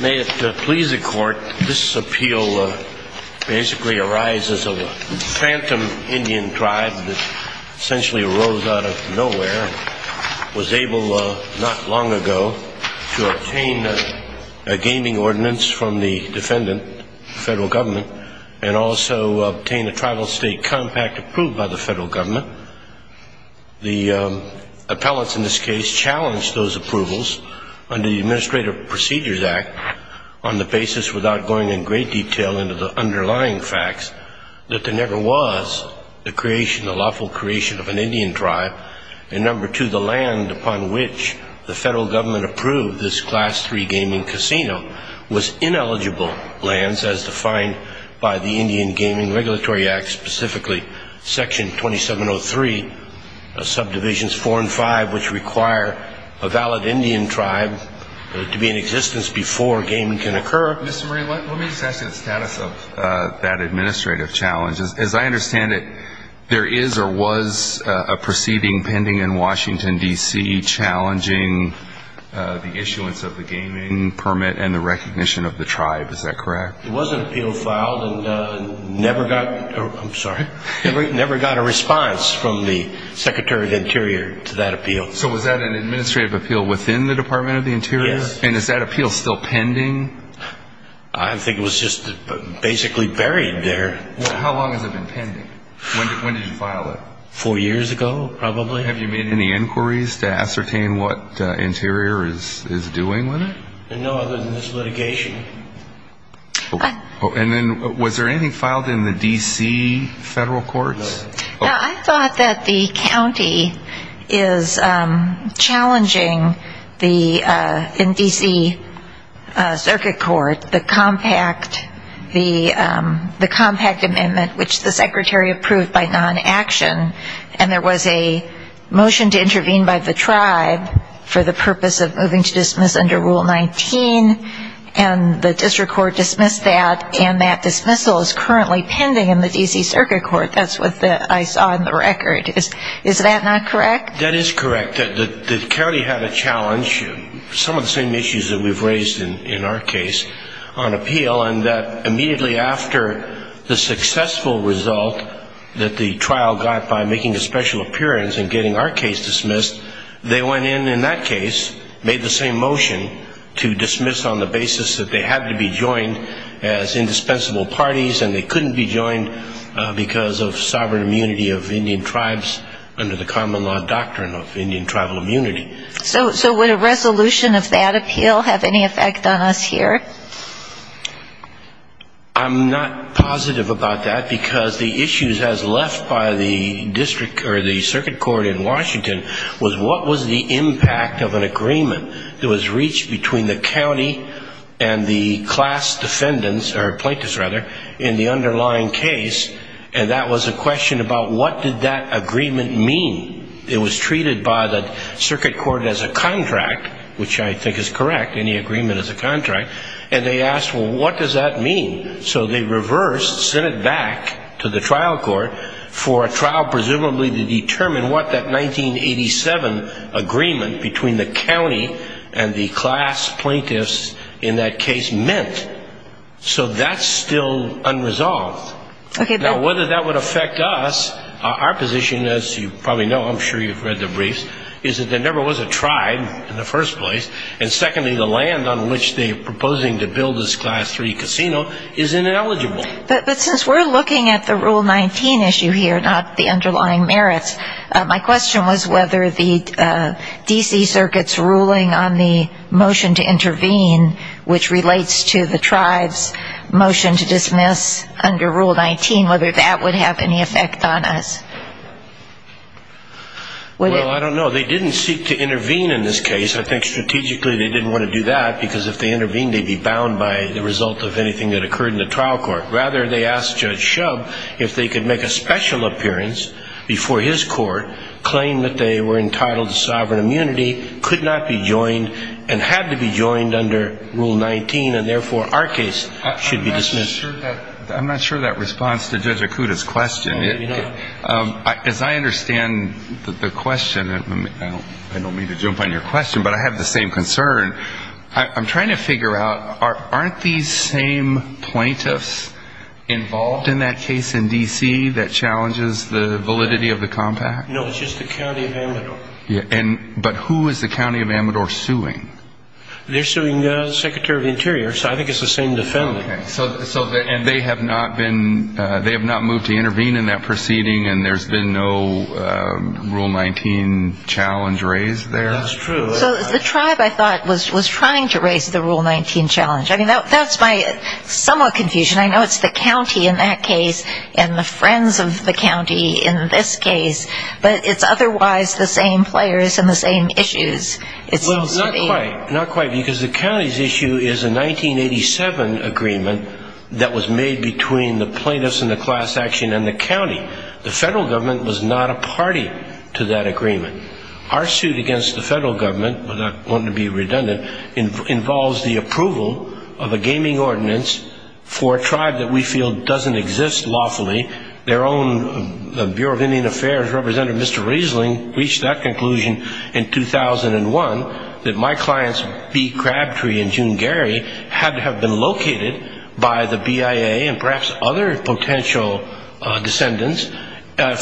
May it please the court, this appeal basically arises of a phantom Indian tribe that essentially arose out of nowhere and was able not long ago to obtain a gaming ordinance from the defendant, the federal government, and also obtain a tribal state compact approved by the federal government. The appellants in this case challenged those approvals under the Administrative Procedures Act on the basis, without going in great detail into the underlying facts, that there never was the creation, the lawful creation of an Indian tribe. And number two, the land upon which the federal government approved this Class III gaming casino was ineligible lands as defined by the Indian Gaming Regulatory Act, specifically Section 2703, Subdivisions 4 and 5, which require a valid Indian tribe to be in existence before gaming can occur. Mr. Murray, let me just ask you the status of that administrative challenge. As I understand it, there is or was a proceeding pending in Washington, D.C., challenging the issuance of the gaming permit and the recognition of the tribe, is that correct? There was an appeal filed and never got a response from the Secretary of the Interior to that appeal. So was that an administrative appeal within the Department of the Interior? Yes. And is that appeal still pending? I think it was just basically buried there. How long has it been pending? When did you file it? Four years ago, probably. Have you made any inquiries to ascertain what Interior is doing with it? No, other than this litigation. Was there anything filed in the D.C. federal courts? I thought that the county is challenging the D.C. Circuit Court, the compact amendment, which the Secretary approved by non-action, and there was a motion to intervene by the tribe for the purpose of moving to dismiss under Rule 19, and the district court dismissed that, and that dismissal is currently pending in the D.C. Circuit Court. That's what I saw in the record. Is that not correct? That is correct. The county had a challenge, some of the same issues that we've raised in our case, on appeal, and that immediately after the successful result that the trial got by making a special appearance and getting our case dismissed, they went in in that case, made the same motion to dismiss on the basis that they had to be joined as indispensable parties, and they couldn't be joined because of the fact that they were not a part of the case. So would a resolution of that appeal have any effect on us here? I'm not positive about that, because the issues as left by the district or the circuit court in Washington was what was the impact of an agreement that was reached between the county and the class defendants, or plaintiffs, rather, in the underlying case, and that was a question about what did that agreement mean. It was treated by the circuit court as a contract, which I think is correct, any agreement is a contract, and they asked, well, what does that mean? So they reversed, sent it back to the trial court for a trial presumably to determine what that 1987 agreement between the county and the class plaintiffs in that case meant. So that's still unresolved. Okay. Now, whether that would affect us, our position, as you probably know, I'm sure you've read the briefs, is that there never was a tribe in the first place, and secondly, the land on which they are proposing to build this class 3 casino is ineligible. But since we're looking at the Rule 19 issue here, not the underlying merits, my question was whether the D.C. Circuit's ruling on the motion to intervene, which relates to the tribe's motion to dismiss under Rule 19, whether that would have any effect on us. Well, I don't know. They didn't seek to intervene in this case. I think strategically they didn't want to do that because if they intervened, they'd be bound by the result of anything that occurred in the trial court. Rather, they asked Judge Shubb if they could make a special appearance before his court, claim that they were entitled to sovereign immunity, could not be joined and had to be joined under Rule 19, and therefore our case should be dismissed. I'm not sure of that response to Judge Akuta's question. As I understand the question, I don't mean to jump on your question, but I have the same concern. I'm trying to figure out, aren't these same plaintiffs involved in that case in D.C. that challenges the validity of the compact? No, it's just the county of Amador. But who is the county of Amador suing? They're suing the Secretary of the Interior, so I think it's the same defendant. Okay, so they have not moved to intervene in that proceeding and there's been no Rule 19 challenge raised there? That's true. So the tribe, I thought, was trying to raise the Rule 19 challenge. I mean, that's my somewhat confusion. I know it's the county in that case and the friends of the county in this case, but it's otherwise the same players and the same issues. Not quite, because the county's issue is a 1987 agreement that was made between the plaintiffs and the class action and the county. The federal government was not a party to that agreement. Our suit against the federal government, not wanting to be redundant, involves the approval of a gaming ordinance for a tribe that we feel doesn't exist lawfully. Their own Bureau of Indian Affairs representative, Mr. Riesling, reached that conclusion in 2001, that my client's bee crab tree in June Gary had to have been located by the BIA and perhaps other potential descendants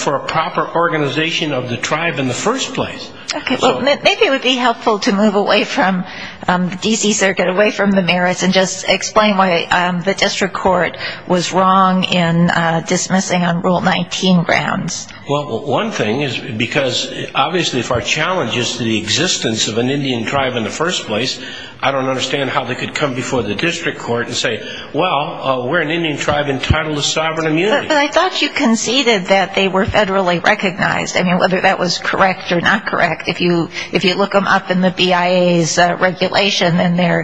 for a proper organization of the tribe in the first place. Okay, well, maybe it would be helpful to move away from the D.C. Circuit, away from the merits, and just explain why the district court was wrong in dismissing on Rule 19 grounds. Well, one thing is because obviously if our challenge is the existence of an Indian tribe in the first place, I don't understand how they could come before the district court and say, well, we're an Indian tribe entitled to sovereign immunity. But I thought you conceded that they were federally recognized. I mean, whether that was correct or not correct, if you look them up in the BIA's regulation, then they're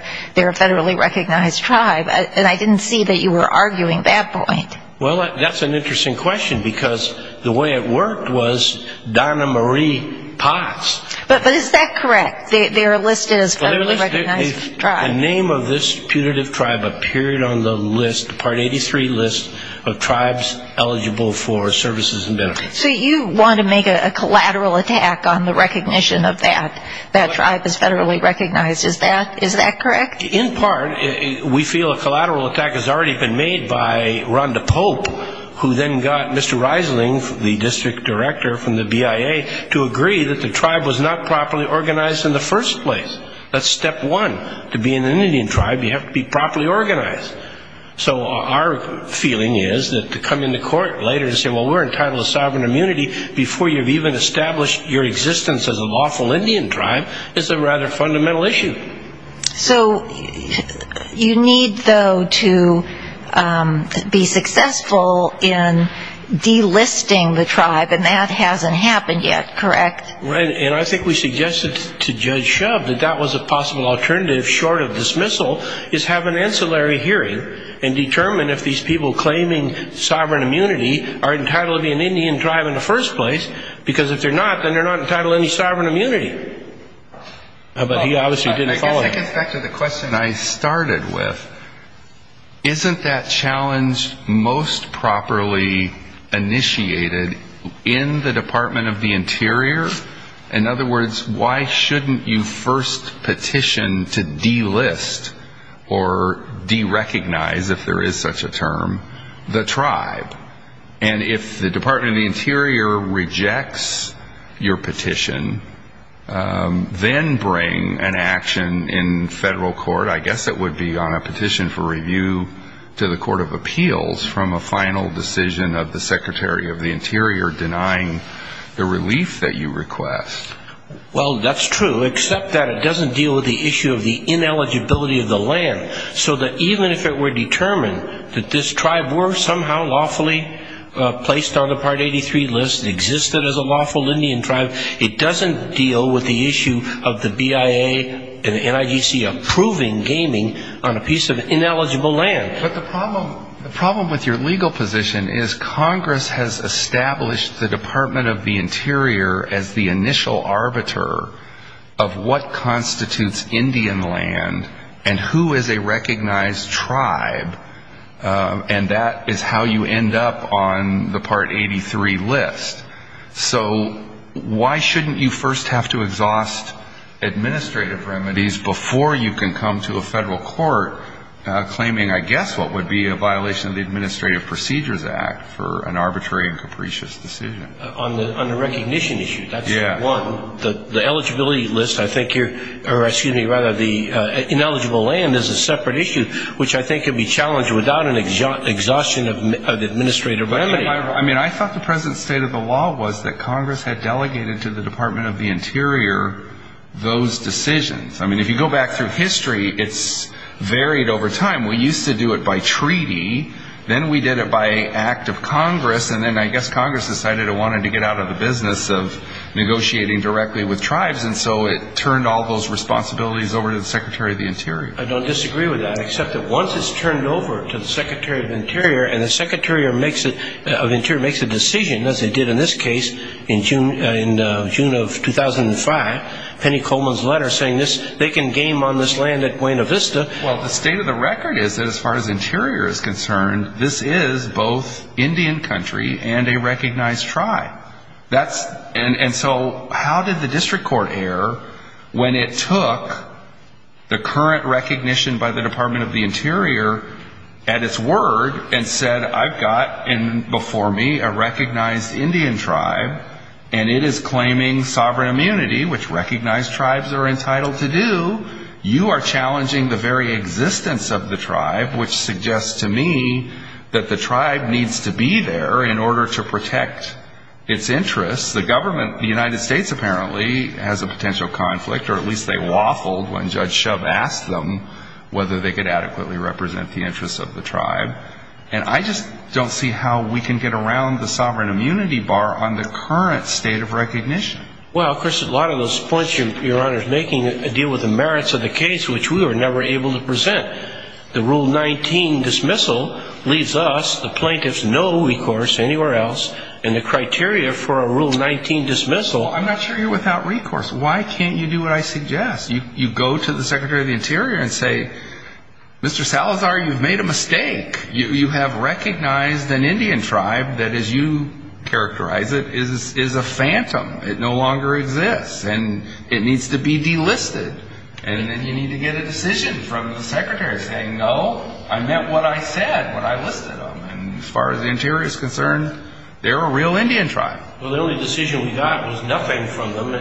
a federally recognized tribe. And I didn't see that you were arguing that point. Well, that's an interesting question, because the way it worked was Donna Marie Potts. But is that correct? They're listed as federally recognized tribes. The name of this putative tribe appeared on the list, Part 83 list, of tribes eligible for services and benefits. So you want to make a collateral attack on the recognition of that, that tribe is federally recognized. Is that correct? In part, we feel a collateral attack has already been made by Rhonda Pope, who then got Mr. Reisling, the district director from the BIA, to agree that the tribe was not properly organized in the first place. That's step one. To be in an Indian tribe, you have to be properly organized. So our feeling is that to come into court later and say, well, we're entitled to sovereign immunity before you've even established your existence as a lawful Indian tribe, is a rather fundamental issue. So you need, though, to be successful in delisting the tribe, and that hasn't happened yet, correct? Right, and I think we suggested to Judge Shub that that was a possible alternative, short of dismissal, is have an ancillary hearing and determine if these people claiming sovereign immunity are entitled to be an Indian tribe in the first place, because if they're not, then they're not entitled to any sovereign immunity. But he obviously didn't follow that. I guess back to the question I started with, isn't that challenge most properly initiated in the Department of the Interior? In other words, why shouldn't you first petition to delist or derecognize, if there is such a term, the tribe? And if the Department of the Interior rejects your petition, then bring an action in federal court, I guess it would be on a petition for review to the Court of Appeals, from a final decision of the Secretary of the Interior denying the relief that you request. Well, that's true, except that it doesn't deal with the issue of the ineligibility of the land, so that even if it were determined that this tribe were somehow lawfully placed on the Part 83 list, existed as a lawful Indian tribe, it doesn't deal with the issue of the BIA and the NIGC approving gaming on a piece of ineligible land. But the problem with your legal position is Congress has established the Department of the Interior as the initial arbiter of what constitutes Indian land and who is a recognized tribe, and that is how you end up on the Part 83 list. So why shouldn't you first have to exhaust administrative remedies before you can come to a federal court claiming, I guess, what would be a violation of the Administrative Procedures Act for an arbitrary and capricious decision? On the recognition issue, that's one. The eligibility list, I think, or excuse me, rather, the ineligible land is a separate issue, which I think could be challenged without an exhaustion of administrative remedies. I mean, I thought the present state of the law was that Congress had delegated to the Department of the Interior those decisions. I mean, if you go back through history, it's varied over time. We used to do it by treaty, then we did it by act of Congress, and then I guess Congress decided it wanted to get out of the business of negotiating directly with tribes, and so it turned all those responsibilities over to the Secretary of the Interior. I don't disagree with that, except that once it's turned over to the Secretary of the Interior and the Secretary of Interior makes a decision, as they did in this case in June of 2005, Penny Coleman's letter saying they can game on this land at Buena Vista. Well, the state of the record is that as far as the Interior is concerned, this is both Indian country and a recognized tribe. And so how did the district court err when it took the current recognition by the Department of the Interior at its word and said, I've got before me a recognized Indian tribe, and it is claiming sovereign immunity, which recognized tribes are entitled to do. You are challenging the very existence of the tribe, which suggests to me that the tribe needs to be there in order to protect its interests. The government, the United States apparently, has a potential conflict, or at least they waffled when Judge Shub asked them whether they could adequately represent the interests of the tribe. And I just don't see how we can get around the sovereign immunity bar on the current state of recognition. Well, Chris, a lot of those points your Honor is making deal with the merits of the case, which we were never able to present. The Rule 19 dismissal leaves us, the plaintiffs, no recourse anywhere else, and the criteria for a Rule 19 dismissal. I'm not sure you're without recourse. Why can't you do what I suggest? You go to the Secretary of the Interior and say, Mr. Salazar, you've made a mistake. You have recognized an Indian tribe that, as you characterize it, is a phantom. It no longer exists, and it needs to be delisted. And then you need to get a decision from the Secretary saying, no, I meant what I said when I listed them. And as far as the Interior is concerned, they're a real Indian tribe. Well, the only decision we got was nothing from them.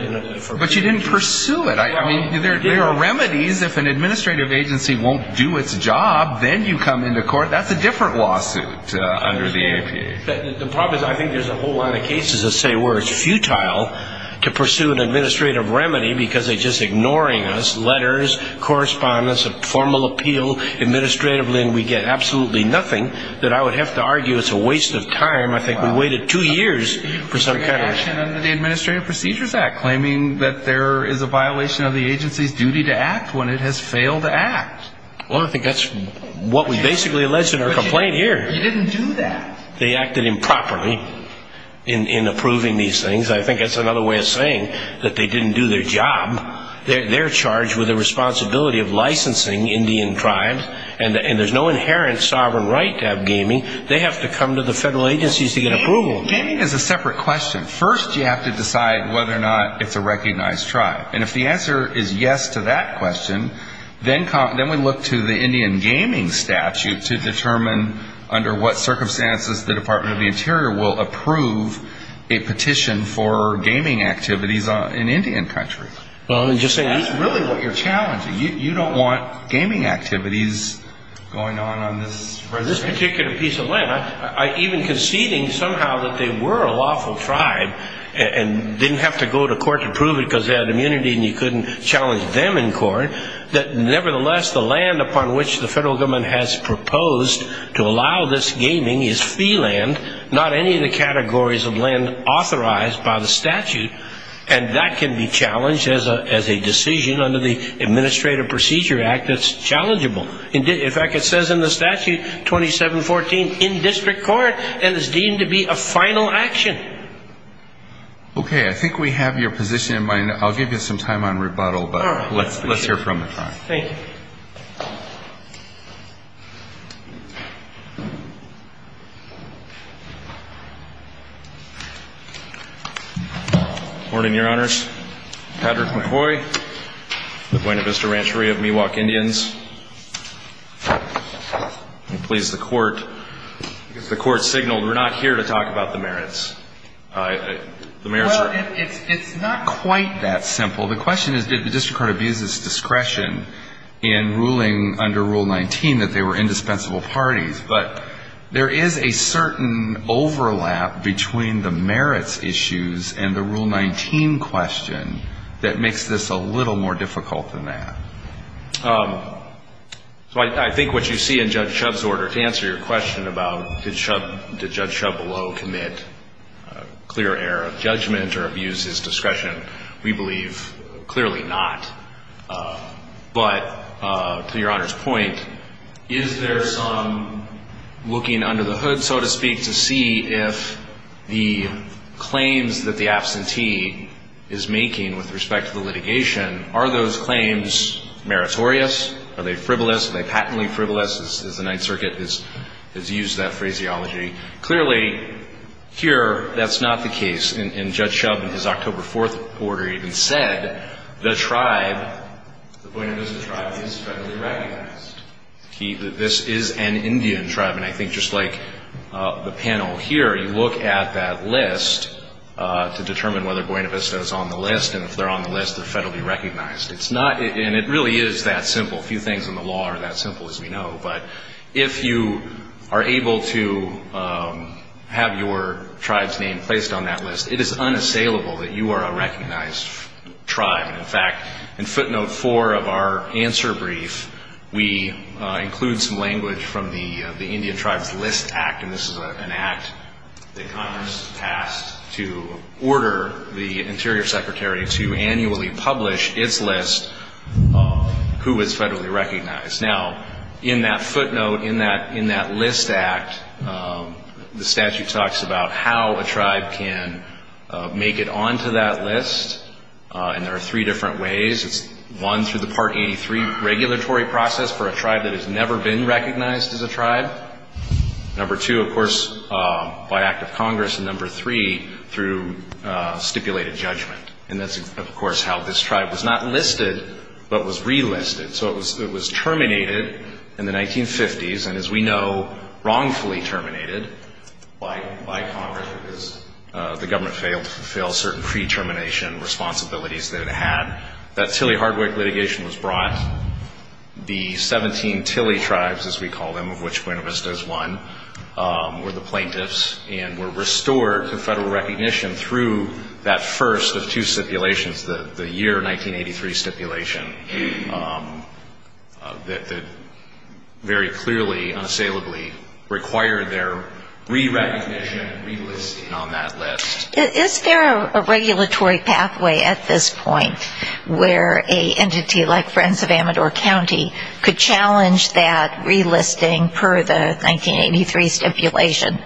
But you didn't pursue it. There are remedies. If an administrative agency won't do its job, then you come into court. That's a different lawsuit under the APA. The problem is I think there's a whole lot of cases that say where it's futile to pursue an administrative remedy because they're just ignoring us, letters, correspondence, a formal appeal, administratively, and we get absolutely nothing, that I would have to argue it's a waste of time. I think we waited two years for some kind of action. Under the Administrative Procedures Act, claiming that there is a violation of the agency's duty to act when it has failed to act. Well, I think that's what we basically alleged in our complaint here. But you didn't do that. They acted improperly in approving these things. I think that's another way of saying that they didn't do their job. They're charged with the responsibility of licensing Indian tribes, and there's no inherent sovereign right to have gaming. They have to come to the federal agencies to get approval. Gaming is a separate question. First, you have to decide whether or not it's a recognized tribe. And if the answer is yes to that question, then we look to the Indian Gaming Statute to determine under what circumstances the Department of the Interior will approve a petition for gaming activities in Indian country. That's really what you're challenging. You don't want gaming activities going on on this reservation. For this particular piece of land, I'm even conceding somehow that they were a lawful tribe and didn't have to go to court to prove it because they had immunity and you couldn't challenge them in court, that nevertheless the land upon which the federal government has proposed to allow this gaming is fee land, not any of the categories of land authorized by the statute, and that can be challenged as a decision under the Administrative Procedure Act that's challengeable. In fact, it says in the statute 2714 in district court and is deemed to be a final action. Okay. I think we have your position in mind. I'll give you some time on rebuttal, but let's hear it from the front. Thank you. Good morning, Your Honors. Patrick McCoy, the Buena Vista Rancheria of Miwok Indians. Please, the Court, the Court signaled we're not here to talk about the merits. The merits are. Well, it's not quite that simple. The question is did the district court abuse its discretion in ruling under Rule 19 that they were indispensable parties, but there is a certain overlap between the merits issues and the Rule 19 question that makes this a little more difficult than that. So I think what you see in Judge Shub's order to answer your question about did Judge Shubelow commit clear error of judgment or abuse his discretion, we believe clearly not. But to Your Honor's point, is there some looking under the hood, so to speak, to see if the claims that the absentee is making with respect to the litigation, are those claims meritorious? Are they frivolous? Are they patently frivolous, as the Ninth Circuit has used that phraseology? Clearly, here, that's not the case. And Judge Shub, in his October 4th order, even said the tribe, the Buena Vista tribe, is federally recognized. This is an Indian tribe. And I think just like the panel here, you look at that list to determine whether Buena Vista is on the list. And if they're on the list, they're federally recognized. And it really is that simple. Few things in the law are that simple, as we know. But if you are able to have your tribe's name placed on that list, it is unassailable that you are a recognized tribe. In fact, in footnote 4 of our answer brief, we include some language from the Indian Tribes List Act, and this is an act that Congress passed to order the Interior Secretary to annually publish its list, who is federally recognized. Now, in that footnote, in that list act, the statute talks about how a tribe can make it onto that list. And there are three different ways. It's, one, through the Part 83 regulatory process for a tribe that has never been recognized as a tribe. Number two, of course, by act of Congress. And number three, through stipulated judgment. And that's, of course, how this tribe was not listed, but was relisted. So it was terminated in the 1950s, and as we know, wrongfully terminated by Congress because the government failed to fulfill certain pre-termination responsibilities that it had. That Tilley-Hardwick litigation was brought. The 17 Tilley tribes, as we call them, of which Buena Vista is one, were the plaintiffs and were restored to federal recognition through that first of two stipulations, the year 1983 stipulation, that very clearly, unassailably required their re-recognition and relisting on that list. Is there a regulatory pathway at this point where an entity like Friends of Amador County could challenge that relisting per the 1983 stipulation?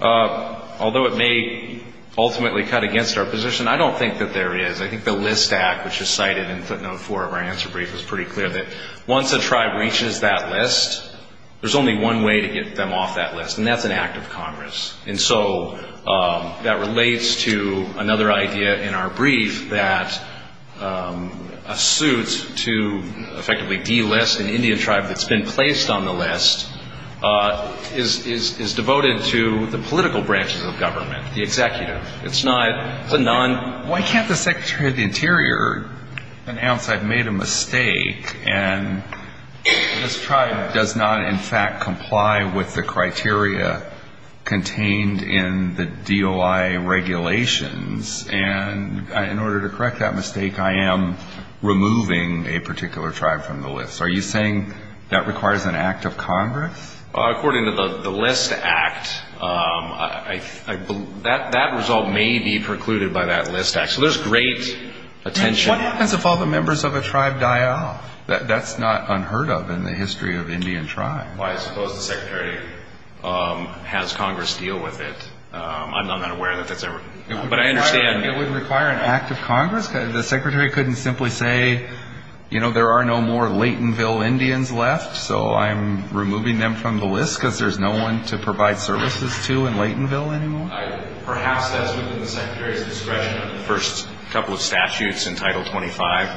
Although it may ultimately cut against our position, I don't think that there is. I think the List Act, which is cited in footnote four of our answer brief, is pretty clear that once a tribe reaches that list, there's only one way to get them off that list, and that's an act of Congress. And so that relates to another idea in our brief that a suit to effectively delist an Indian tribe that's been placed on the list is devoted to the political branches of government, the executive. It's not the non- Why can't the Secretary of the Interior announce I've made a mistake and this tribe does not, in fact, comply with the criteria contained in the DOI regulations? And in order to correct that mistake, I am removing a particular tribe from the list. Are you saying that requires an act of Congress? According to the List Act, that result may be precluded by that List Act. So there's great attention. What happens if all the members of a tribe die off? That's not unheard of in the history of Indian tribes. Why suppose the Secretary has Congress deal with it? I'm not aware that that's ever- But I understand- It wouldn't require an act of Congress? The Secretary couldn't simply say, you know, there are no more Laytonville Indians left, so I'm removing them from the list because there's no one to provide services to in Laytonville anymore? Perhaps that's within the Secretary's discretion under the first couple of statutes in Title 25.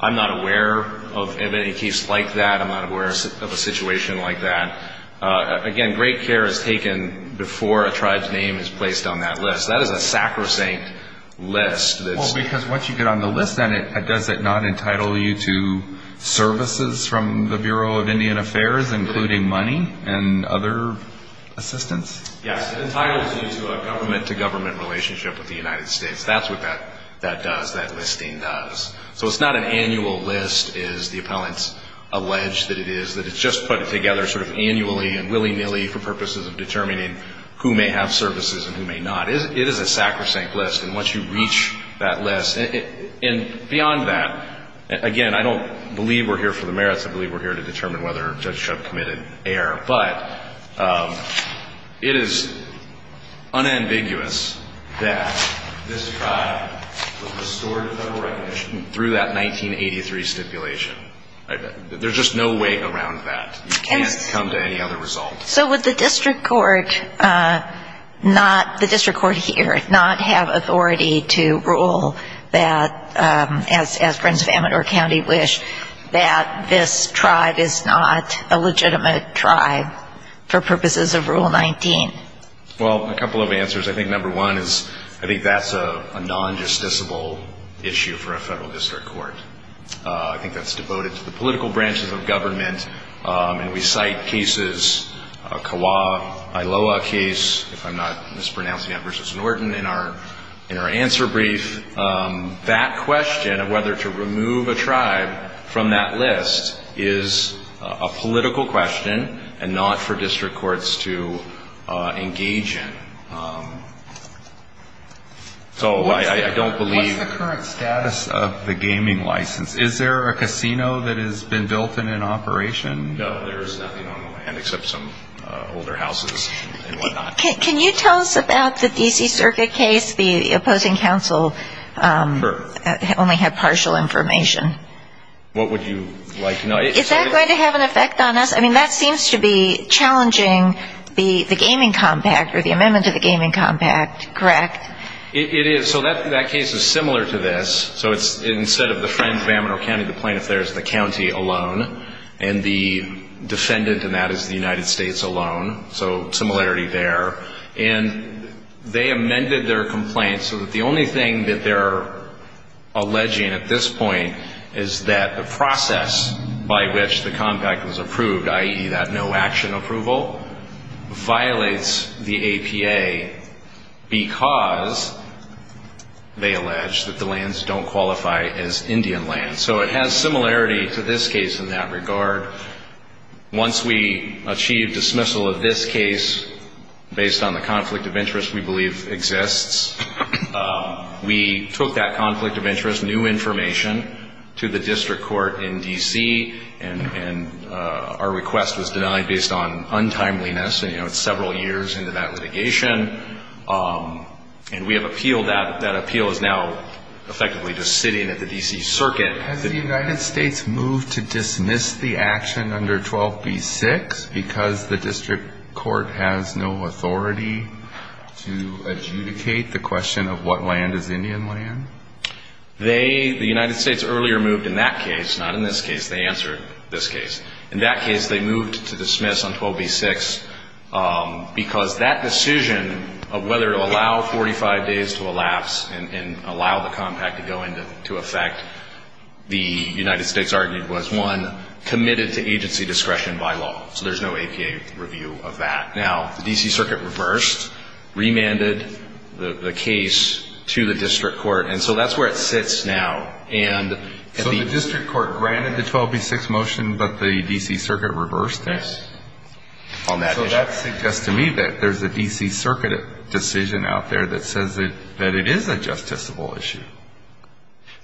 I'm not aware of any case like that. I'm not aware of a situation like that. Again, great care is taken before a tribe's name is placed on that list. That is a sacrosanct list that's- Well, because once you get on the list, then does it not entitle you to services from the Bureau of Indian Affairs, including money and other assistance? Yes, it entitles you to a government-to-government relationship with the United States. That's what that does, that listing does. So it's not an annual list, as the appellants allege that it is. It's just put together sort of annually and willy-nilly for purposes of determining who may have services and who may not. It is a sacrosanct list, and once you reach that list- And beyond that, again, I don't believe we're here for the merits. I believe we're here to determine whether a judge should have committed error. But it is unambiguous that this tribe was restored to federal recognition through that 1983 stipulation. There's just no way around that. You can't come to any other result. So would the district court here not have authority to rule that, as Prince of Amador County wished, that this tribe is not a legitimate tribe for purposes of Rule 19? Well, a couple of answers. I think number one is I think that's a non-justiciable issue for a federal district court. I think that's devoted to the political branches of government. And we cite cases, a Kauai-Iloa case, if I'm not mispronouncing that, versus Norton in our answer brief. That question of whether to remove a tribe from that list is a political question and not for district courts to engage in. So I don't believe- What's the current status of the gaming license? Is there a casino that has been built and in operation? No, there is nothing on the land except some older houses and whatnot. Can you tell us about the D.C. Circuit case? The opposing counsel only had partial information. What would you like- Is that going to have an effect on us? I mean, that seems to be challenging the gaming compact or the amendment to the gaming compact, correct? It is. So that case is similar to this. So instead of the Friends of Amarillo County, the plaintiff there is the county alone, and the defendant in that is the United States alone. So similarity there. And they amended their complaint so that the only thing that they're alleging at this point is that the process by which the compact was approved, i.e., that no-action approval, violates the APA because they allege that the lands don't qualify as Indian land. So it has similarity to this case in that regard. Once we achieve dismissal of this case based on the conflict of interest we believe exists, we took that conflict of interest, new information, to the district court in D.C. And our request was denied based on untimeliness. You know, it's several years into that litigation. And we have appealed that. That appeal is now effectively just sitting at the D.C. Circuit. Has the United States moved to dismiss the action under 12b-6 because the district court has no authority to adjudicate the question of what land is Indian land? They, the United States earlier moved in that case, not in this case. They answered this case. In that case they moved to dismiss on 12b-6 because that decision of whether to allow 45 days to elapse and allow the compact to go into effect, the United States argued was, one, committed to agency discretion by law. So there's no APA review of that. Now, the D.C. Circuit reversed, remanded the case to the district court. And so that's where it sits now. And at the ---- So the district court granted the 12b-6 motion, but the D.C. Circuit reversed it? Yes. On that issue. So that suggests to me that there's a D.C. Circuit decision out there that says that it is a justiciable issue.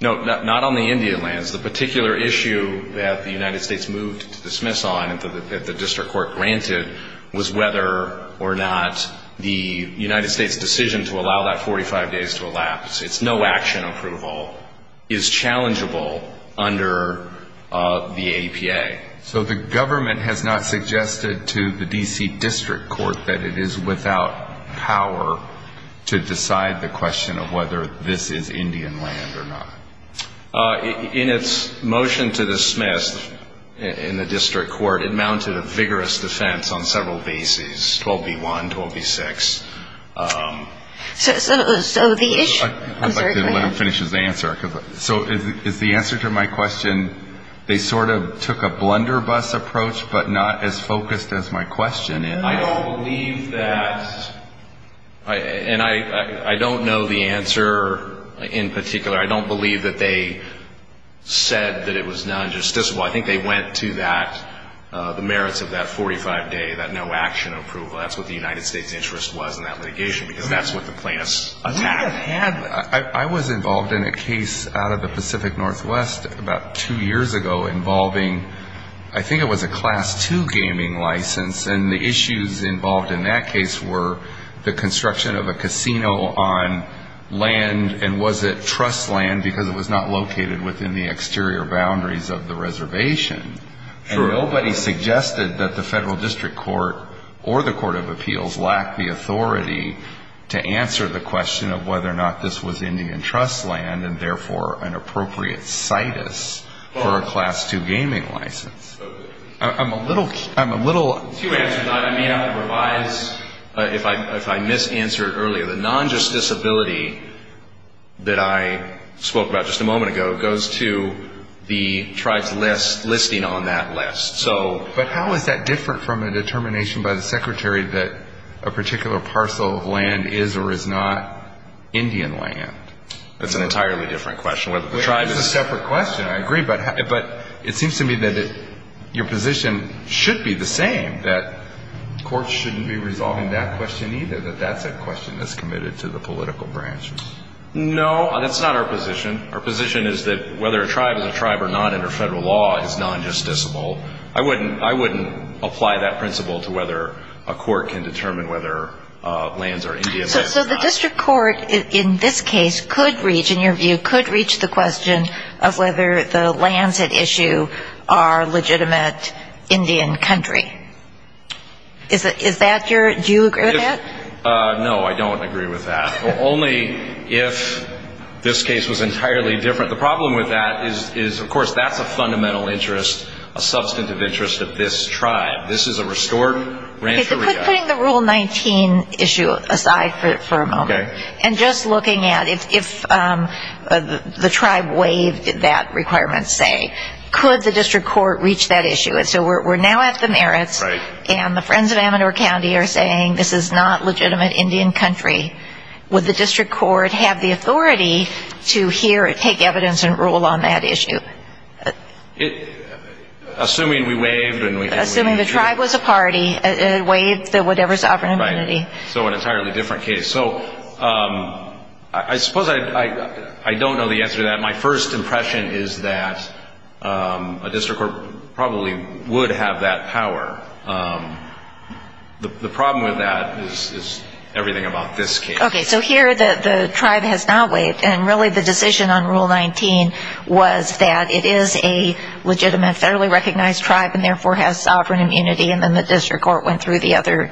No, not on the Indian lands. The particular issue that the United States moved to dismiss on, that the district court granted, was whether or not the United States' decision to allow that 45 days to elapse, it's no action approval, is challengeable under the APA. So the government has not suggested to the D.C. District Court that it is without power to decide the question of whether this is Indian land or not? In its motion to dismiss in the district court, it mounted a vigorous defense on several bases, 12b-1, 12b-6. So the issue ---- I'd like to let him finish his answer. So is the answer to my question, they sort of took a blunderbuss approach, but not as focused as my question. I don't believe that, and I don't know the answer in particular. I don't believe that they said that it was non-justiciable. I think they went to that, the merits of that 45-day, that no action approval. That's what the United States' interest was in that litigation, because that's what the plaintiffs attacked. I was involved in a case out of the Pacific Northwest about two years ago involving, I think it was a Class II gaming license. And the issues involved in that case were the construction of a casino on land. And was it trust land because it was not located within the exterior boundaries of the reservation? And nobody suggested that the federal district court or the court of appeals lacked the authority to answer the question of whether or not this was Indian trust land, and therefore an appropriate situs for a Class II gaming license. I'm a little... To answer that, I may have to revise, if I misanswered earlier. The non-justiciability that I spoke about just a moment ago goes to the tribes listing on that list. But how is that different from a determination by the Secretary that a particular parcel of land is or is not Indian land? That's an entirely different question. It's a separate question. I agree. But it seems to me that your position should be the same, that courts shouldn't be resolving that question either, that that's a question that's committed to the political branches. No, that's not our position. Our position is that whether a tribe is a tribe or not under federal law is non-justiciable. I wouldn't apply that principle to whether a court can determine whether lands are Indian or not. So the district court in this case could reach, in your view, could reach the question of whether the lands at issue are legitimate Indian country. Do you agree with that? No, I don't agree with that. Only if this case was entirely different. The problem with that is, of course, that's a fundamental interest, a substantive interest of this tribe. This is a restored rancheria. Putting the Rule 19 issue aside for a moment. Okay. And just looking at if the tribe waived that requirement, say, could the district court reach that issue? So we're now at the merits. Right. And the friends of Amador County are saying this is not legitimate Indian country. Would the district court have the authority to hear it, take evidence, and rule on that issue? Assuming we waived. Assuming the tribe was a party. It waived the whatever sovereign immunity. Right. So an entirely different case. So I suppose I don't know the answer to that. My first impression is that a district court probably would have that power. The problem with that is everything about this case. Okay. So here the tribe has not waived, and really the decision on Rule 19 was that it is a legitimate, federally recognized tribe and therefore has sovereign immunity, and then the district court went through the other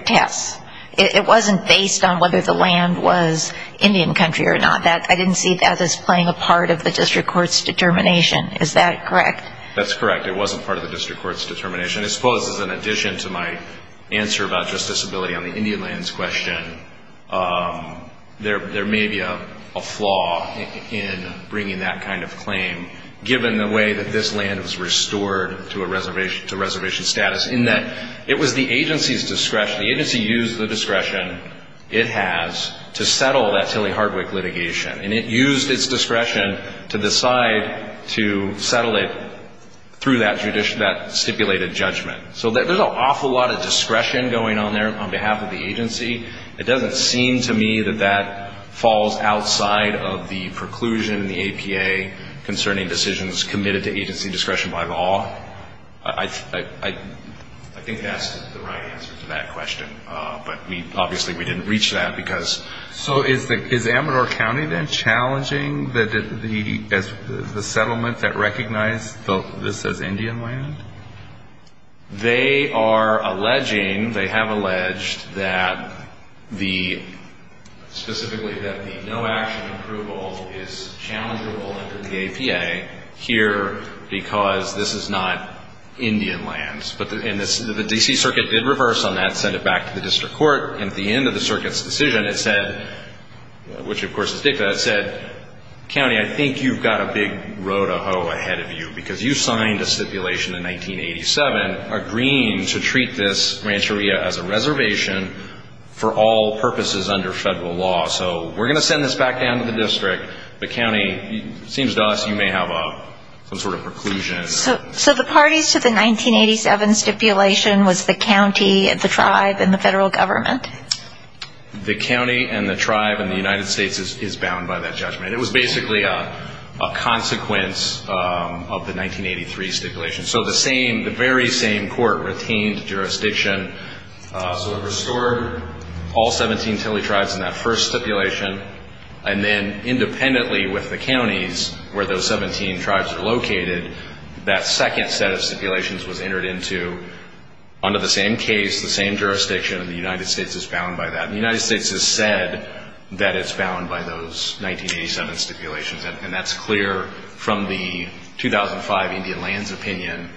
tests. It wasn't based on whether the land was Indian country or not. I didn't see that as playing a part of the district court's determination. Is that correct? That's correct. It wasn't part of the district court's determination. I suppose as an addition to my answer about justiciability on the Indian lands question, there may be a flaw in bringing that kind of claim, given the way that this land was restored to reservation status, in that it was the agency's discretion. The agency used the discretion it has to settle that Tilly Hardwick litigation, and it used its discretion to decide to settle it through that stipulated judgment. So there's an awful lot of discretion going on there on behalf of the agency. It doesn't seem to me that that falls outside of the preclusion in the APA concerning decisions committed to agency discretion by law. I think that's the right answer to that question, but obviously we didn't reach that because... So is Amador County then challenging the settlement that recognized this as Indian land? They are alleging, they have alleged that the, specifically that the no-action approval is challengeable under the APA here because this is not Indian lands. And the D.C. Circuit did reverse on that, sent it back to the district court, and at the end of the circuit's decision it said, which of course is dictated, it said, we've got a big row to hoe ahead of you because you signed a stipulation in 1987 agreeing to treat this rancheria as a reservation for all purposes under federal law. So we're going to send this back down to the district, the county, it seems to us you may have some sort of preclusion. So the parties to the 1987 stipulation was the county and the tribe and the federal government? The county and the tribe and the United States is bound by that judgment. It was basically a consequence of the 1983 stipulation. So the same, the very same court retained jurisdiction. So it restored all 17 Tilley tribes in that first stipulation, and then independently with the counties where those 17 tribes are located, that second set of stipulations was entered into under the same case, the same jurisdiction, and the United States is bound by that. The United States has said that it's bound by those 1987 stipulations, and that's clear from the 2005 Indian lands opinion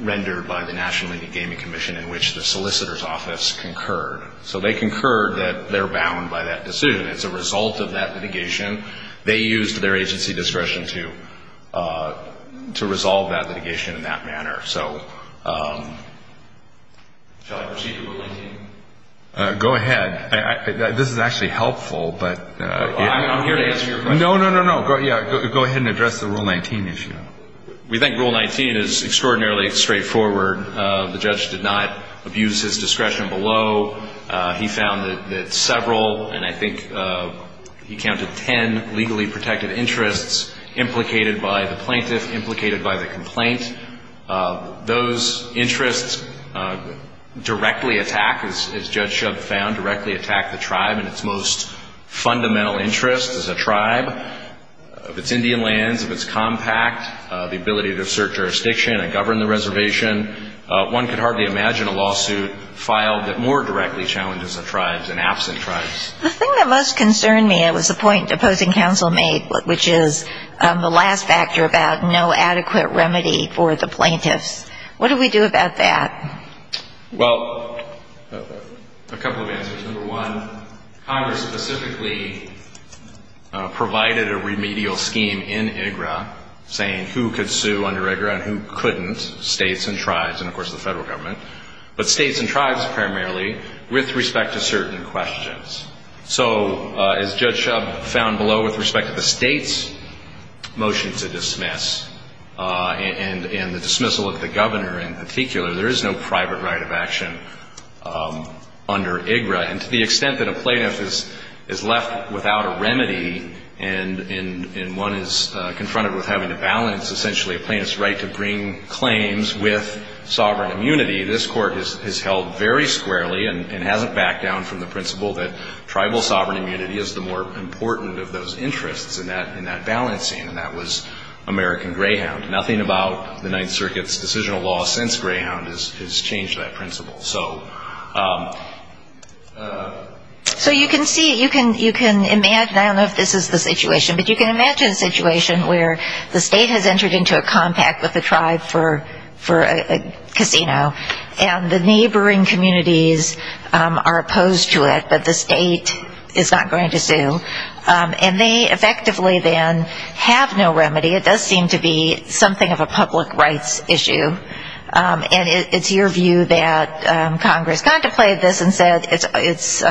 rendered by the National Indian Gaming Commission in which the solicitor's office concurred. So they concurred that they're bound by that decision. It's a result of that litigation. They used their agency discretion to resolve that litigation in that manner. So shall I proceed to ruling? Go ahead. This is actually helpful, but... I'm here to answer your question. No, no, no, no. Go ahead and address the Rule 19 issue. We think Rule 19 is extraordinarily straightforward. The judge did not abuse his discretion below. He found that several, and I think he counted ten, legally protected interests implicated by the plaintiff, implicated by the complaint. Those interests directly attack, as Judge Shub found, directly attack the tribe in its most fundamental interest as a tribe, of its Indian lands, of its compact, the ability to assert jurisdiction and govern the reservation. One could hardly imagine a lawsuit filed that more directly challenges the tribes and absent tribes. The thing that most concerned me was the point opposing counsel made, which is the last factor about no adequate remedy for the plaintiffs. What do we do about that? Well, a couple of answers. Number one, Congress specifically provided a remedial scheme in IGRA saying who could sue under IGRA and who couldn't, states and tribes and, of course, the federal government, but states and tribes primarily with respect to certain questions. So as Judge Shub found below with respect to the state's motion to dismiss and the dismissal of the governor in particular, there is no private right of action under IGRA. And to the extent that a plaintiff is left without a remedy and one is confronted with having to balance, essentially, a plaintiff's right to bring claims with sovereign immunity, this Court has held very squarely and hasn't backed down from the principle that tribal sovereign immunity is the more important of those interests in that balancing, and that was American Greyhound. Nothing about the Ninth Circuit's decisional law since Greyhound has changed that principle. So you can see, you can imagine, I don't know if this is the situation, but you can imagine a situation where the state has entered into a compact with the tribe for a casino and the neighboring communities are opposed to it, but the state is not going to sue. And they effectively then have no remedy. It does seem to be something of a public rights issue. And it's your view that Congress contemplated this and said it's,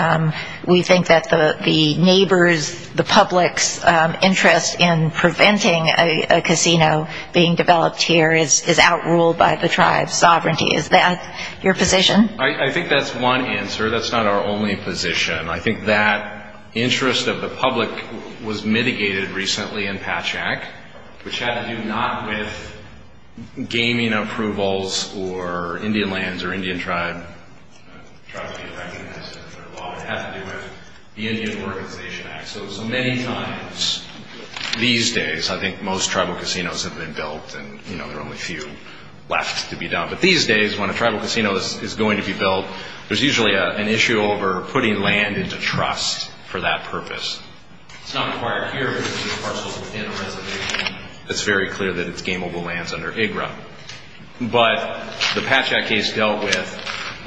we think that the neighbors, the public's interest in preventing a casino being developed here is outruled by the tribe's sovereignty. Is that your position? I think that's one answer. That's not our only position. I think that interest of the public was mitigated recently in Patchak, which had to do not with gaming approvals or Indian lands or Indian tribe, it had to do with the Indian Organization Act. So many times these days I think most tribal casinos have been built and there are only a few left to be done. But these days when a tribal casino is going to be built, there's usually an issue over putting land into trust for that purpose. It's not required here because it's parceled within a reservation. It's very clear that it's gameable lands under IGRA. But the Patchak case dealt with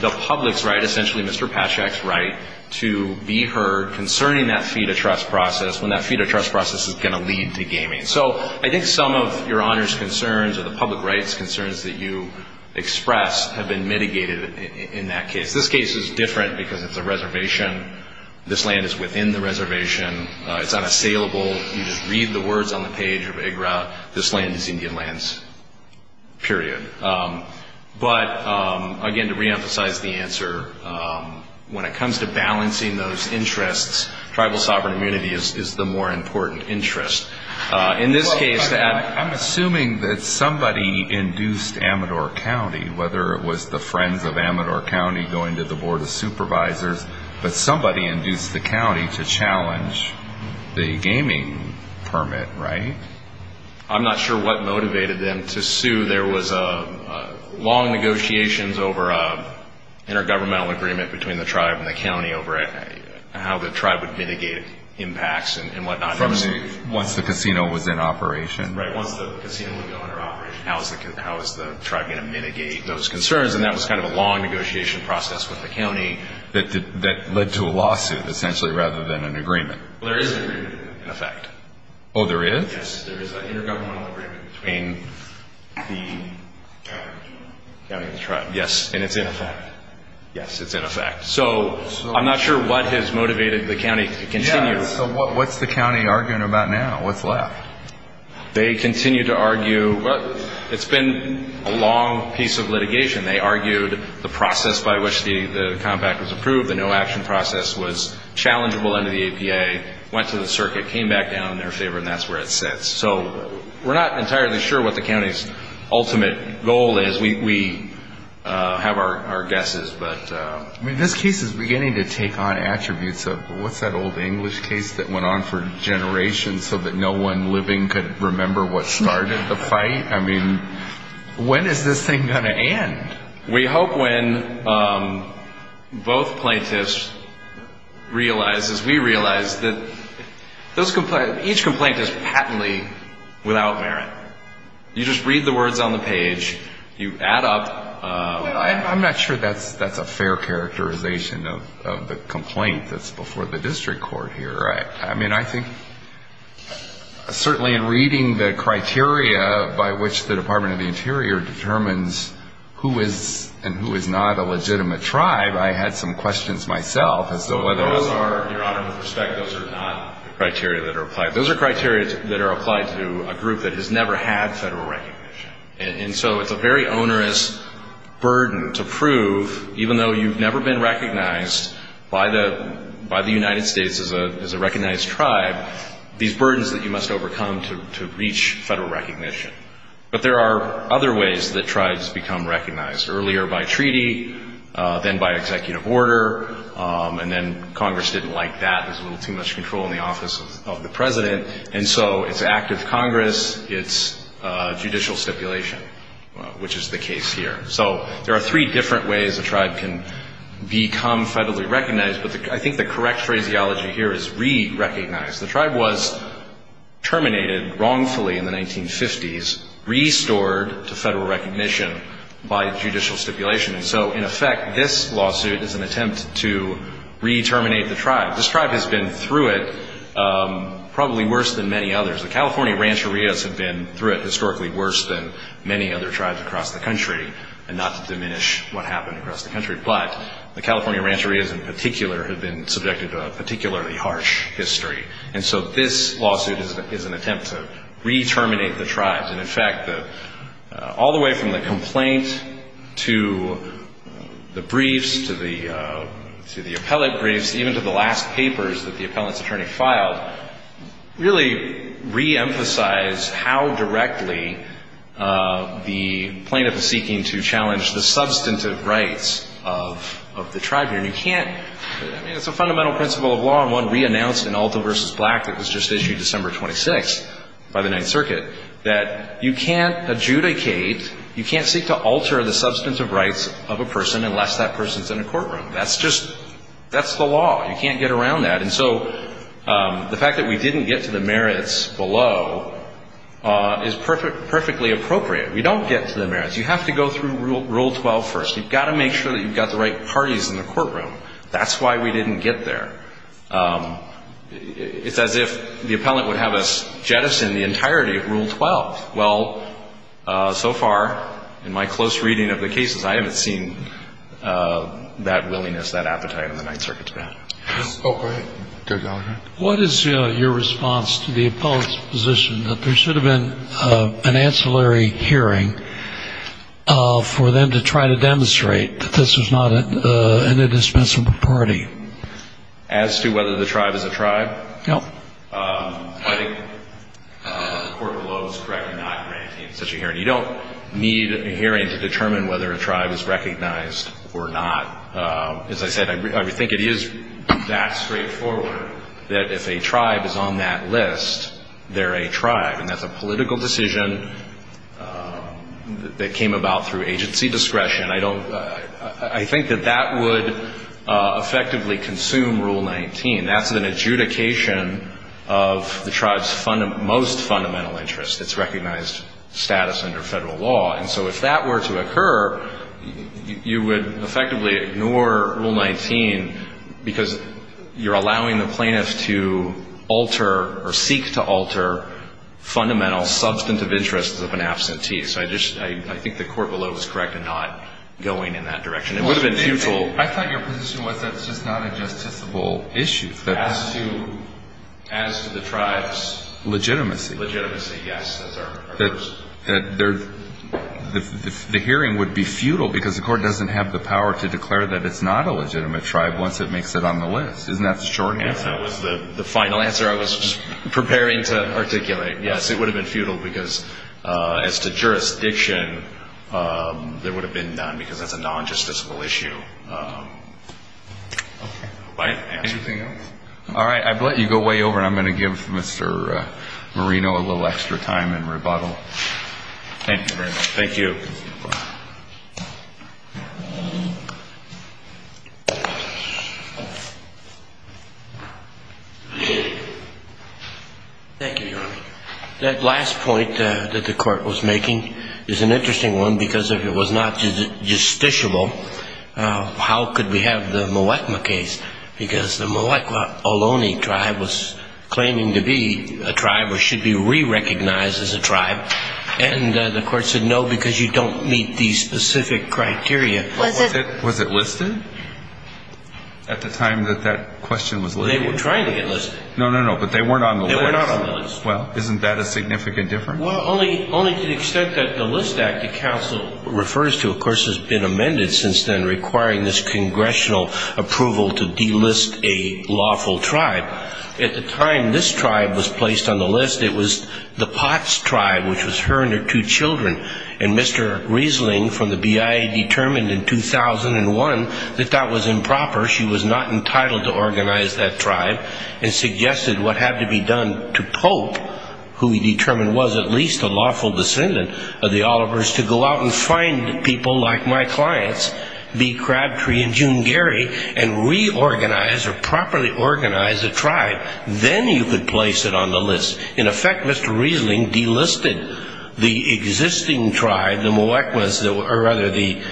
the public's right, essentially Mr. Patchak's right, to be heard concerning that fee-to-trust process when that fee-to-trust process is going to lead to gaming. So I think some of Your Honor's concerns or the public rights concerns that you express have been mitigated in that case. This case is different because it's a reservation. This land is within the reservation. It's unassailable. You just read the words on the page of IGRA. This land is Indian lands, period. But, again, to reemphasize the answer, when it comes to balancing those interests, tribal sovereign immunity is the more important interest. In this case that ---- I'm assuming that somebody induced Amador County, whether it was the friends of Amador County going to the Board of Supervisors, but somebody induced the county to challenge the gaming permit, right? I'm not sure what motivated them to sue. There was long negotiations over an intergovernmental agreement between the tribe and the county over how the tribe would mitigate impacts and whatnot. Once the casino was in operation? Right, once the casino would go under operation, how is the tribe going to mitigate those concerns? And that was kind of a long negotiation process with the county that led to a lawsuit, essentially, rather than an agreement. Well, there is an agreement, in effect. Oh, there is? Yes, there is an intergovernmental agreement between the county and the tribe. Yes, and it's in effect. Yes, it's in effect. So I'm not sure what has motivated the county to continue. Yeah, so what's the county arguing about now? They continue to argue, well, it's been a long piece of litigation. They argued the process by which the compact was approved, the no-action process was challengeable under the APA, went to the circuit, came back down in their favor, and that's where it sits. So we're not entirely sure what the county's ultimate goal is. We have our guesses. I mean, this case is beginning to take on attributes of, what's that old English case that went on for generations so that no one living could remember what started the fight? I mean, when is this thing going to end? We hope when both plaintiffs realize, as we realize, that each complaint is patently without merit. You just read the words on the page. You add up. I'm not sure that's a fair characterization of the complaint that's before the district court here. Right. I mean, I think certainly in reading the criteria by which the Department of the Interior determines who is and who is not a legitimate tribe, I had some questions myself as to whether or not... Your Honor, with respect, those are not criteria that are applied. Those are criteria that are applied to a group that has never had federal recognition. And so it's a very onerous burden to prove, even though you've never been recognized by the United States as a recognized tribe, these burdens that you must overcome to reach federal recognition. But there are other ways that tribes become recognized, earlier by treaty, then by executive order. And then Congress didn't like that. There's a little too much control in the office of the president. And so it's active Congress. It's judicial stipulation, which is the case here. So there are three different ways a tribe can become federally recognized. But I think the correct phraseology here is re-recognize. The tribe was terminated wrongfully in the 1950s, restored to federal recognition by judicial stipulation. And so, in effect, this lawsuit is an attempt to re-terminate the tribe. This tribe has been through it probably worse than many others. The California Rancherias have been through it historically worse than many other tribes across the country, and not to diminish what happened across the country. But the California Rancherias in particular have been subjected to a particularly harsh history. And so this lawsuit is an attempt to re-terminate the tribes. And, in fact, all the way from the complaint to the briefs, to the appellate briefs, even to the last papers that the appellant's attorney filed, really re-emphasize how directly the plaintiff is seeking to challenge the substantive rights of the tribe here. And you can't – I mean, it's a fundamental principle of law, and one re-announced in Alto v. Black that was just issued December 26th by the Ninth Circuit, that you can't adjudicate, you can't seek to alter the substantive rights of a person unless that person's in a courtroom. That's just – that's the law. You can't get around that. And so the fact that we didn't get to the merits below is perfectly appropriate. We don't get to the merits. You have to go through Rule 12 first. You've got to make sure that you've got the right parties in the courtroom. That's why we didn't get there. It's as if the appellant would have us jettison the entirety of Rule 12. Well, so far, in my close reading of the cases, I haven't seen that willingness, that appetite on the Ninth Circuit today. Go ahead. What is your response to the appellant's position that there should have been an ancillary hearing for them to try to demonstrate that this is not an indispensable party? As to whether the tribe is a tribe? No. I think the court below is correctly not granting such a hearing. You don't need a hearing to determine whether a tribe is recognized or not. As I said, I think it is that straightforward that if a tribe is on that list, they're a tribe, and that's a political decision that came about through agency discretion. I don't – I think that that would effectively consume Rule 19. That's an adjudication of the tribe's most fundamental interest, its recognized status under federal law. And so if that were to occur, you would effectively ignore Rule 19 because you're allowing the plaintiff to alter or seek to alter fundamental substantive interests of an absentee. So I just – I think the court below is correct in not going in that direction. It would have been futile. I thought your position was that it's just not a justiciable issue. As to the tribe's legitimacy. Legitimacy, yes. The hearing would be futile because the court doesn't have the power to declare that it's not a legitimate tribe once it makes it on the list. Isn't that the short answer? That was the final answer I was preparing to articulate. Yes, it would have been futile because as to jurisdiction, there would have been none because that's a non-justiciable issue. Okay. Anything else? All right. I've let you go way over and I'm going to give Mr. Marino a little extra time in rebuttal. Thank you very much. Thank you. Thank you, Your Honor. That last point that the court was making is an interesting one because if it was not justiciable, how could we have the Muwekma case? Because the Muwekma Ohlone tribe was claiming to be a tribe or should be re-recognized as a tribe, and the court said no because you don't meet these specific criteria. Was it listed at the time that that question was laid out? They were trying to get listed. No, no, no, but they weren't on the list. Well, isn't that a significant difference? Well, only to the extent that the List Act, the counsel refers to, of course, has been amended since then requiring this congressional approval to delist a lawful tribe. At the time this tribe was placed on the list, it was the Potts tribe, which was her and her two children, and Mr. Riesling from the BIA determined in 2001 that that was improper. She was not entitled to organize that tribe and suggested what had to be done to Pope, who he determined was at least a lawful descendant of the Olivers, to go out and find people like my clients, B. Crabtree and June Geary, and reorganize or properly organize a tribe. Then you could place it on the list. In effect, Mr. Riesling delisted the existing tribe, the Muwekmas, or rather the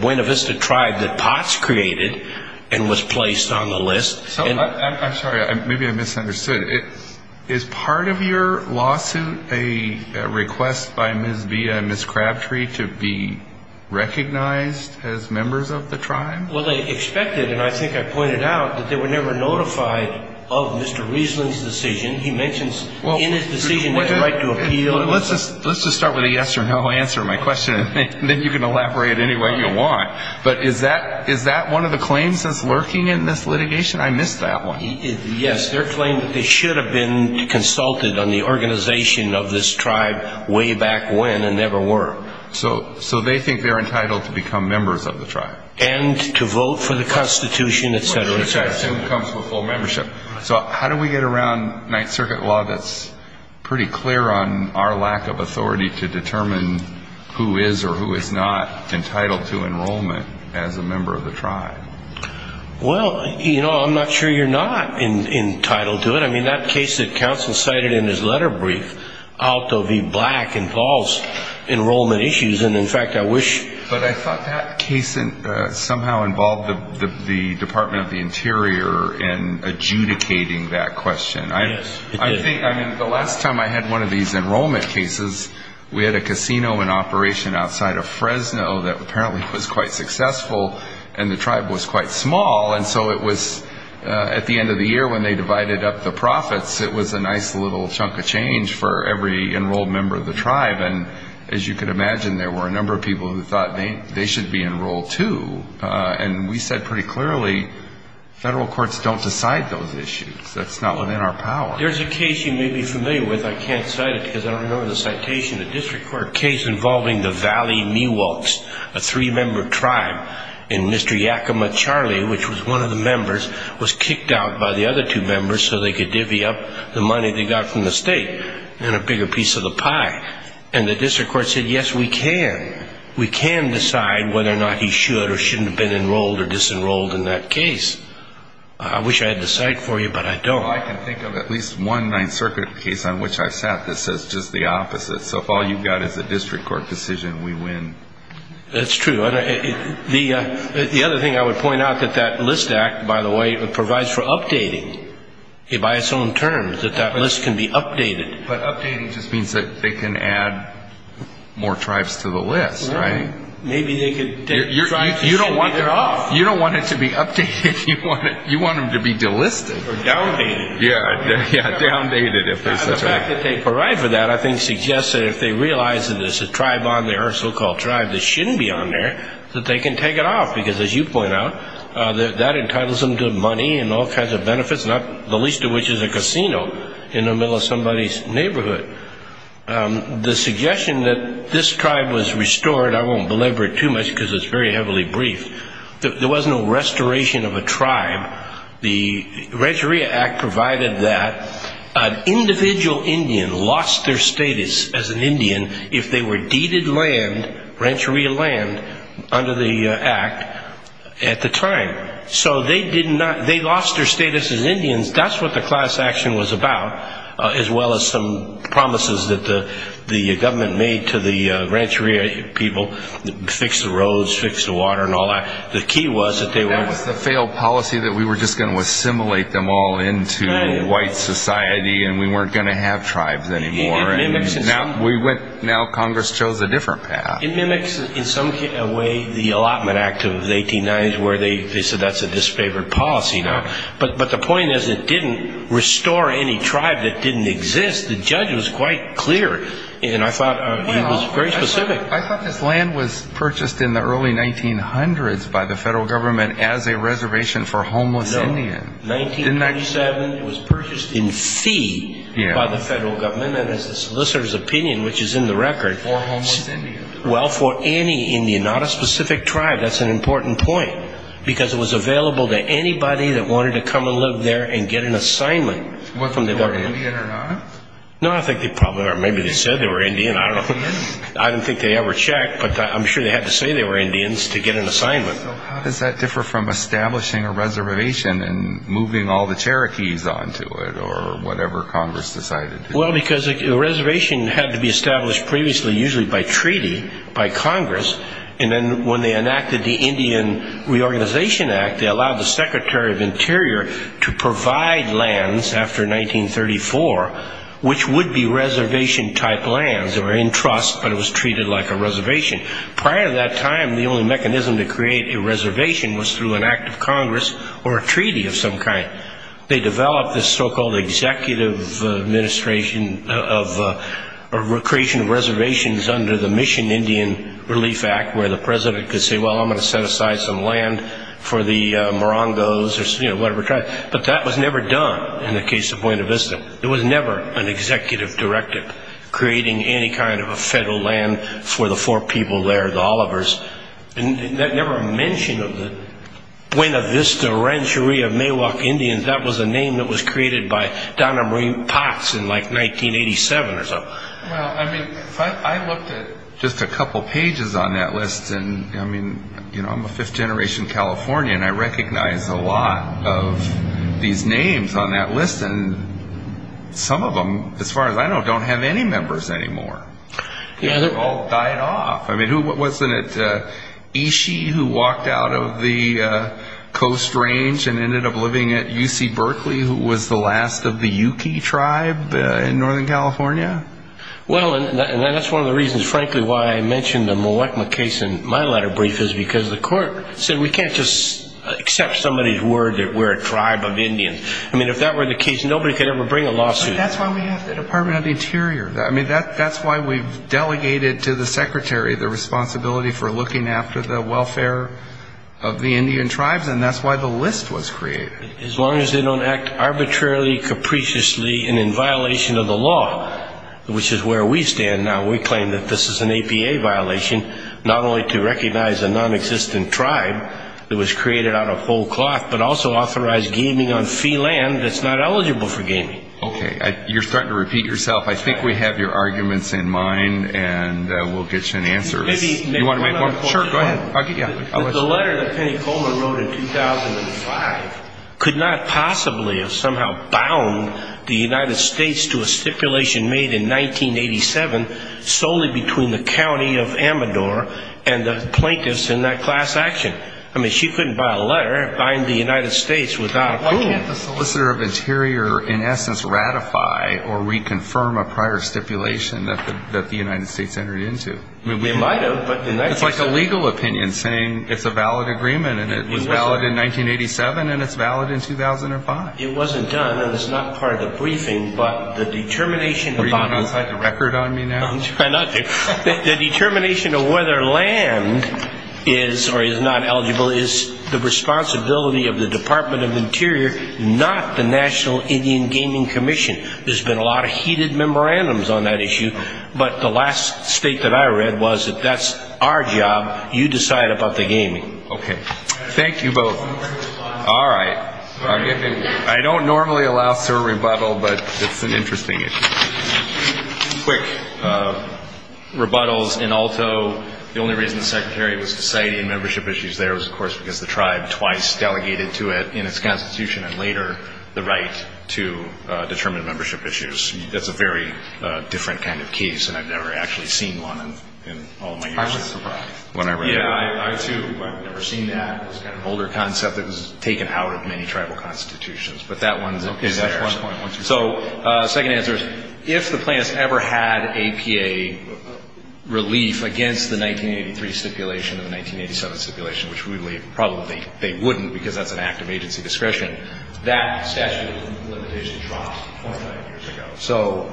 Buena Vista tribe that Potts created and was placed on the list. I'm sorry, maybe I misunderstood. Is part of your lawsuit a request by Ms. BIA and Ms. Crabtree to be recognized as members of the tribe? Well, they expected, and I think I pointed out, that they were never notified of Mr. Riesling's decision. He mentions in his decision that right to appeal. Let's just start with a yes or no answer to my question, and then you can elaborate any way you want. But is that one of the claims that's lurking in this litigation? I missed that one. Yes, their claim that they should have been consulted on the organization of this tribe way back when and never were. So they think they're entitled to become members of the tribe. And to vote for the Constitution, et cetera, et cetera. So how do we get around Ninth Circuit law that's pretty clear on our lack of authority to determine who is or who is not entitled to enrollment as a member of the tribe? Well, you know, I'm not sure you're not entitled to it. I mean, that case that counsel cited in his letter brief, Alto v. Black, involves enrollment issues. But I thought that case somehow involved the Department of the Interior in adjudicating that question. I think, I mean, the last time I had one of these enrollment cases, we had a casino in operation outside of Fresno that apparently was quite successful, and the tribe was quite small. And so it was at the end of the year when they divided up the profits, it was a nice little chunk of change for every enrolled member of the tribe. And as you can imagine, there were a number of people who thought they should be enrolled, too. And we said pretty clearly, federal courts don't decide those issues. That's not within our power. There's a case you may be familiar with. I can't cite it because I don't remember the citation. A district court case involving the Valley Mewolks, a three-member tribe, and Mr. Yakima Charlie, which was one of the members, was kicked out by the other two members so they could divvy up the money they got from the state and a bigger piece of the pie. And the district court said, yes, we can. We can decide whether or not he should or shouldn't have been enrolled or disenrolled in that case. I wish I had the cite for you, but I don't. Well, I can think of at least one Ninth Circuit case on which I've sat that says just the opposite. So if all you've got is a district court decision, we win. That's true. The other thing I would point out, that that list act, by the way, provides for updating. By its own terms, that that list can be updated. But updating just means that they can add more tribes to the list, right? Maybe they could take tribes that should be there off. You don't want it to be updated. You want them to be delisted. Or downdated. Yeah, downdated if there's such a thing. The fact that they provide for that, I think, suggests that if they realize that there's a tribe on there, a so-called tribe, that shouldn't be on there, that they can take it off. Because as you point out, that entitles them to money and all kinds of benefits, not the least of which is a casino in the middle of somebody's neighborhood. The suggestion that this tribe was restored, I won't belabor it too much because it's very heavily briefed, there was no restoration of a tribe. The Rancheria Act provided that an individual Indian lost their status as an Indian if they were deeded land, Rancheria land, under the Act at the time. So they lost their status as Indians. That's what the class action was about, as well as some promises that the government made to the Rancheria people, fix the roads, fix the water, and all that. The key was that they weren't going to have tribes. That was the failed policy that we were just going to assimilate them all into white society and we weren't going to have tribes anymore. Now Congress chose a different path. It mimics in some way the Allotment Act of the 1890s where they said that's a disfavored policy now. But the point is it didn't restore any tribe that didn't exist. The judge was quite clear, and I thought he was very specific. I thought this land was purchased in the early 1900s by the federal government as a reservation for homeless Indians. In 1997 it was purchased in fee by the federal government as a solicitor's opinion, which is in the record. For homeless Indians. Well, for any Indian, not a specific tribe. That's an important point because it was available to anybody that wanted to come and live there and get an assignment from the government. Were they Indian or not? No, I think they probably were. Maybe they said they were Indian. I don't know. I don't think they ever checked, but I'm sure they had to say they were Indians to get an assignment. How does that differ from establishing a reservation and moving all the Cherokees onto it or whatever Congress decided? Well, because a reservation had to be established previously usually by treaty, by Congress. And then when they enacted the Indian Reorganization Act, they allowed the Secretary of Interior to provide lands after 1934, which would be reservation-type lands. They were in trust, but it was treated like a reservation. Prior to that time, the only mechanism to create a reservation was through an act of Congress or a treaty of some kind. They developed this so-called executive administration of creation of reservations under the Mission Indian Relief Act, where the president could say, well, I'm going to set aside some land for the Morongos or whatever tribe. But that was never done in the case of Buena Vista. It was never an executive directive creating any kind of a federal land for the four people there, the Olivers. And that never mention of the Buena Vista Rancheria Maywalk Indians, that was a name that was created by Donna Marie Potts in like 1987 or so. Well, I mean, I looked at just a couple pages on that list, and I mean, you know, I'm a fifth-generation Californian. I recognize a lot of these names on that list, and some of them, as far as I know, don't have any members anymore. They've all died off. I mean, wasn't it Ishi who walked out of the Coast Range and ended up living at UC Berkeley, who was the last of the Yuki tribe in Northern California? Well, and that's one of the reasons, frankly, why I mentioned the Mwekma case in my letter brief, is because the court said we can't just accept somebody's word that we're a tribe of Indians. I mean, if that were the case, nobody could ever bring a lawsuit. That's why we have the Department of the Interior. I mean, that's why we've delegated to the secretary the responsibility for looking after the welfare of the Indian tribes, and that's why the list was created. As long as they don't act arbitrarily, capriciously, and in violation of the law, which is where we stand now. We claim that this is an APA violation, not only to recognize a nonexistent tribe that was created out of whole cloth, but also authorized gaming on fee land that's not eligible for gaming. Okay. You're starting to repeat yourself. I think we have your arguments in mind, and we'll get you an answer. Do you want to make one? Sure, go ahead. The letter that Penny Coleman wrote in 2005 could not possibly have somehow bound the United States to a stipulation made in 1987 solely between the county of Amador and the plaintiffs in that class action. I mean, she couldn't buy a letter behind the United States without a clue. Why can't the solicitor of interior, in essence, ratify or reconfirm a prior stipulation that the United States entered into? I mean, we might have, but the United States didn't. It's like a legal opinion saying it's a valid agreement, and it was valid in 1987, and it's valid in 2005. It wasn't done, and it's not part of the briefing, but the determination about it. Are you going to cite the record on me now? I'm trying not to. The determination of whether land is or is not eligible is the responsibility of the Department of Interior, not the National Indian Gaming Commission. There's been a lot of heated memorandums on that issue, but the last state that I read was that that's our job. You decide about the gaming. Okay. Thank you both. All right. I don't normally allow for a rebuttal, but it's an interesting issue. Quick rebuttals in Alto. Because the tribe twice delegated to it in its constitution and later the right to determine membership issues. That's a very different kind of case, and I've never actually seen one in all of my years. I was surprised when I read it. Yeah, I, too, but I've never seen that. It's kind of an older concept that was taken out of many tribal constitutions, but that one is there. Okay, that's one point. So second answer is, if the plan has ever had APA relief against the 1983 stipulation and the 1987 stipulation, which we believe probably they wouldn't because that's an act of agency discretion, that statute of limitation dropped 49 years ago. So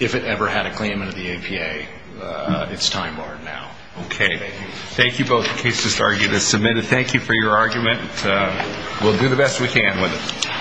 if it ever had a claimant of the APA, it's time-barred now. Okay. Thank you. Thank you both. The case is submitted. Thank you for your argument. We'll do the best we can with it.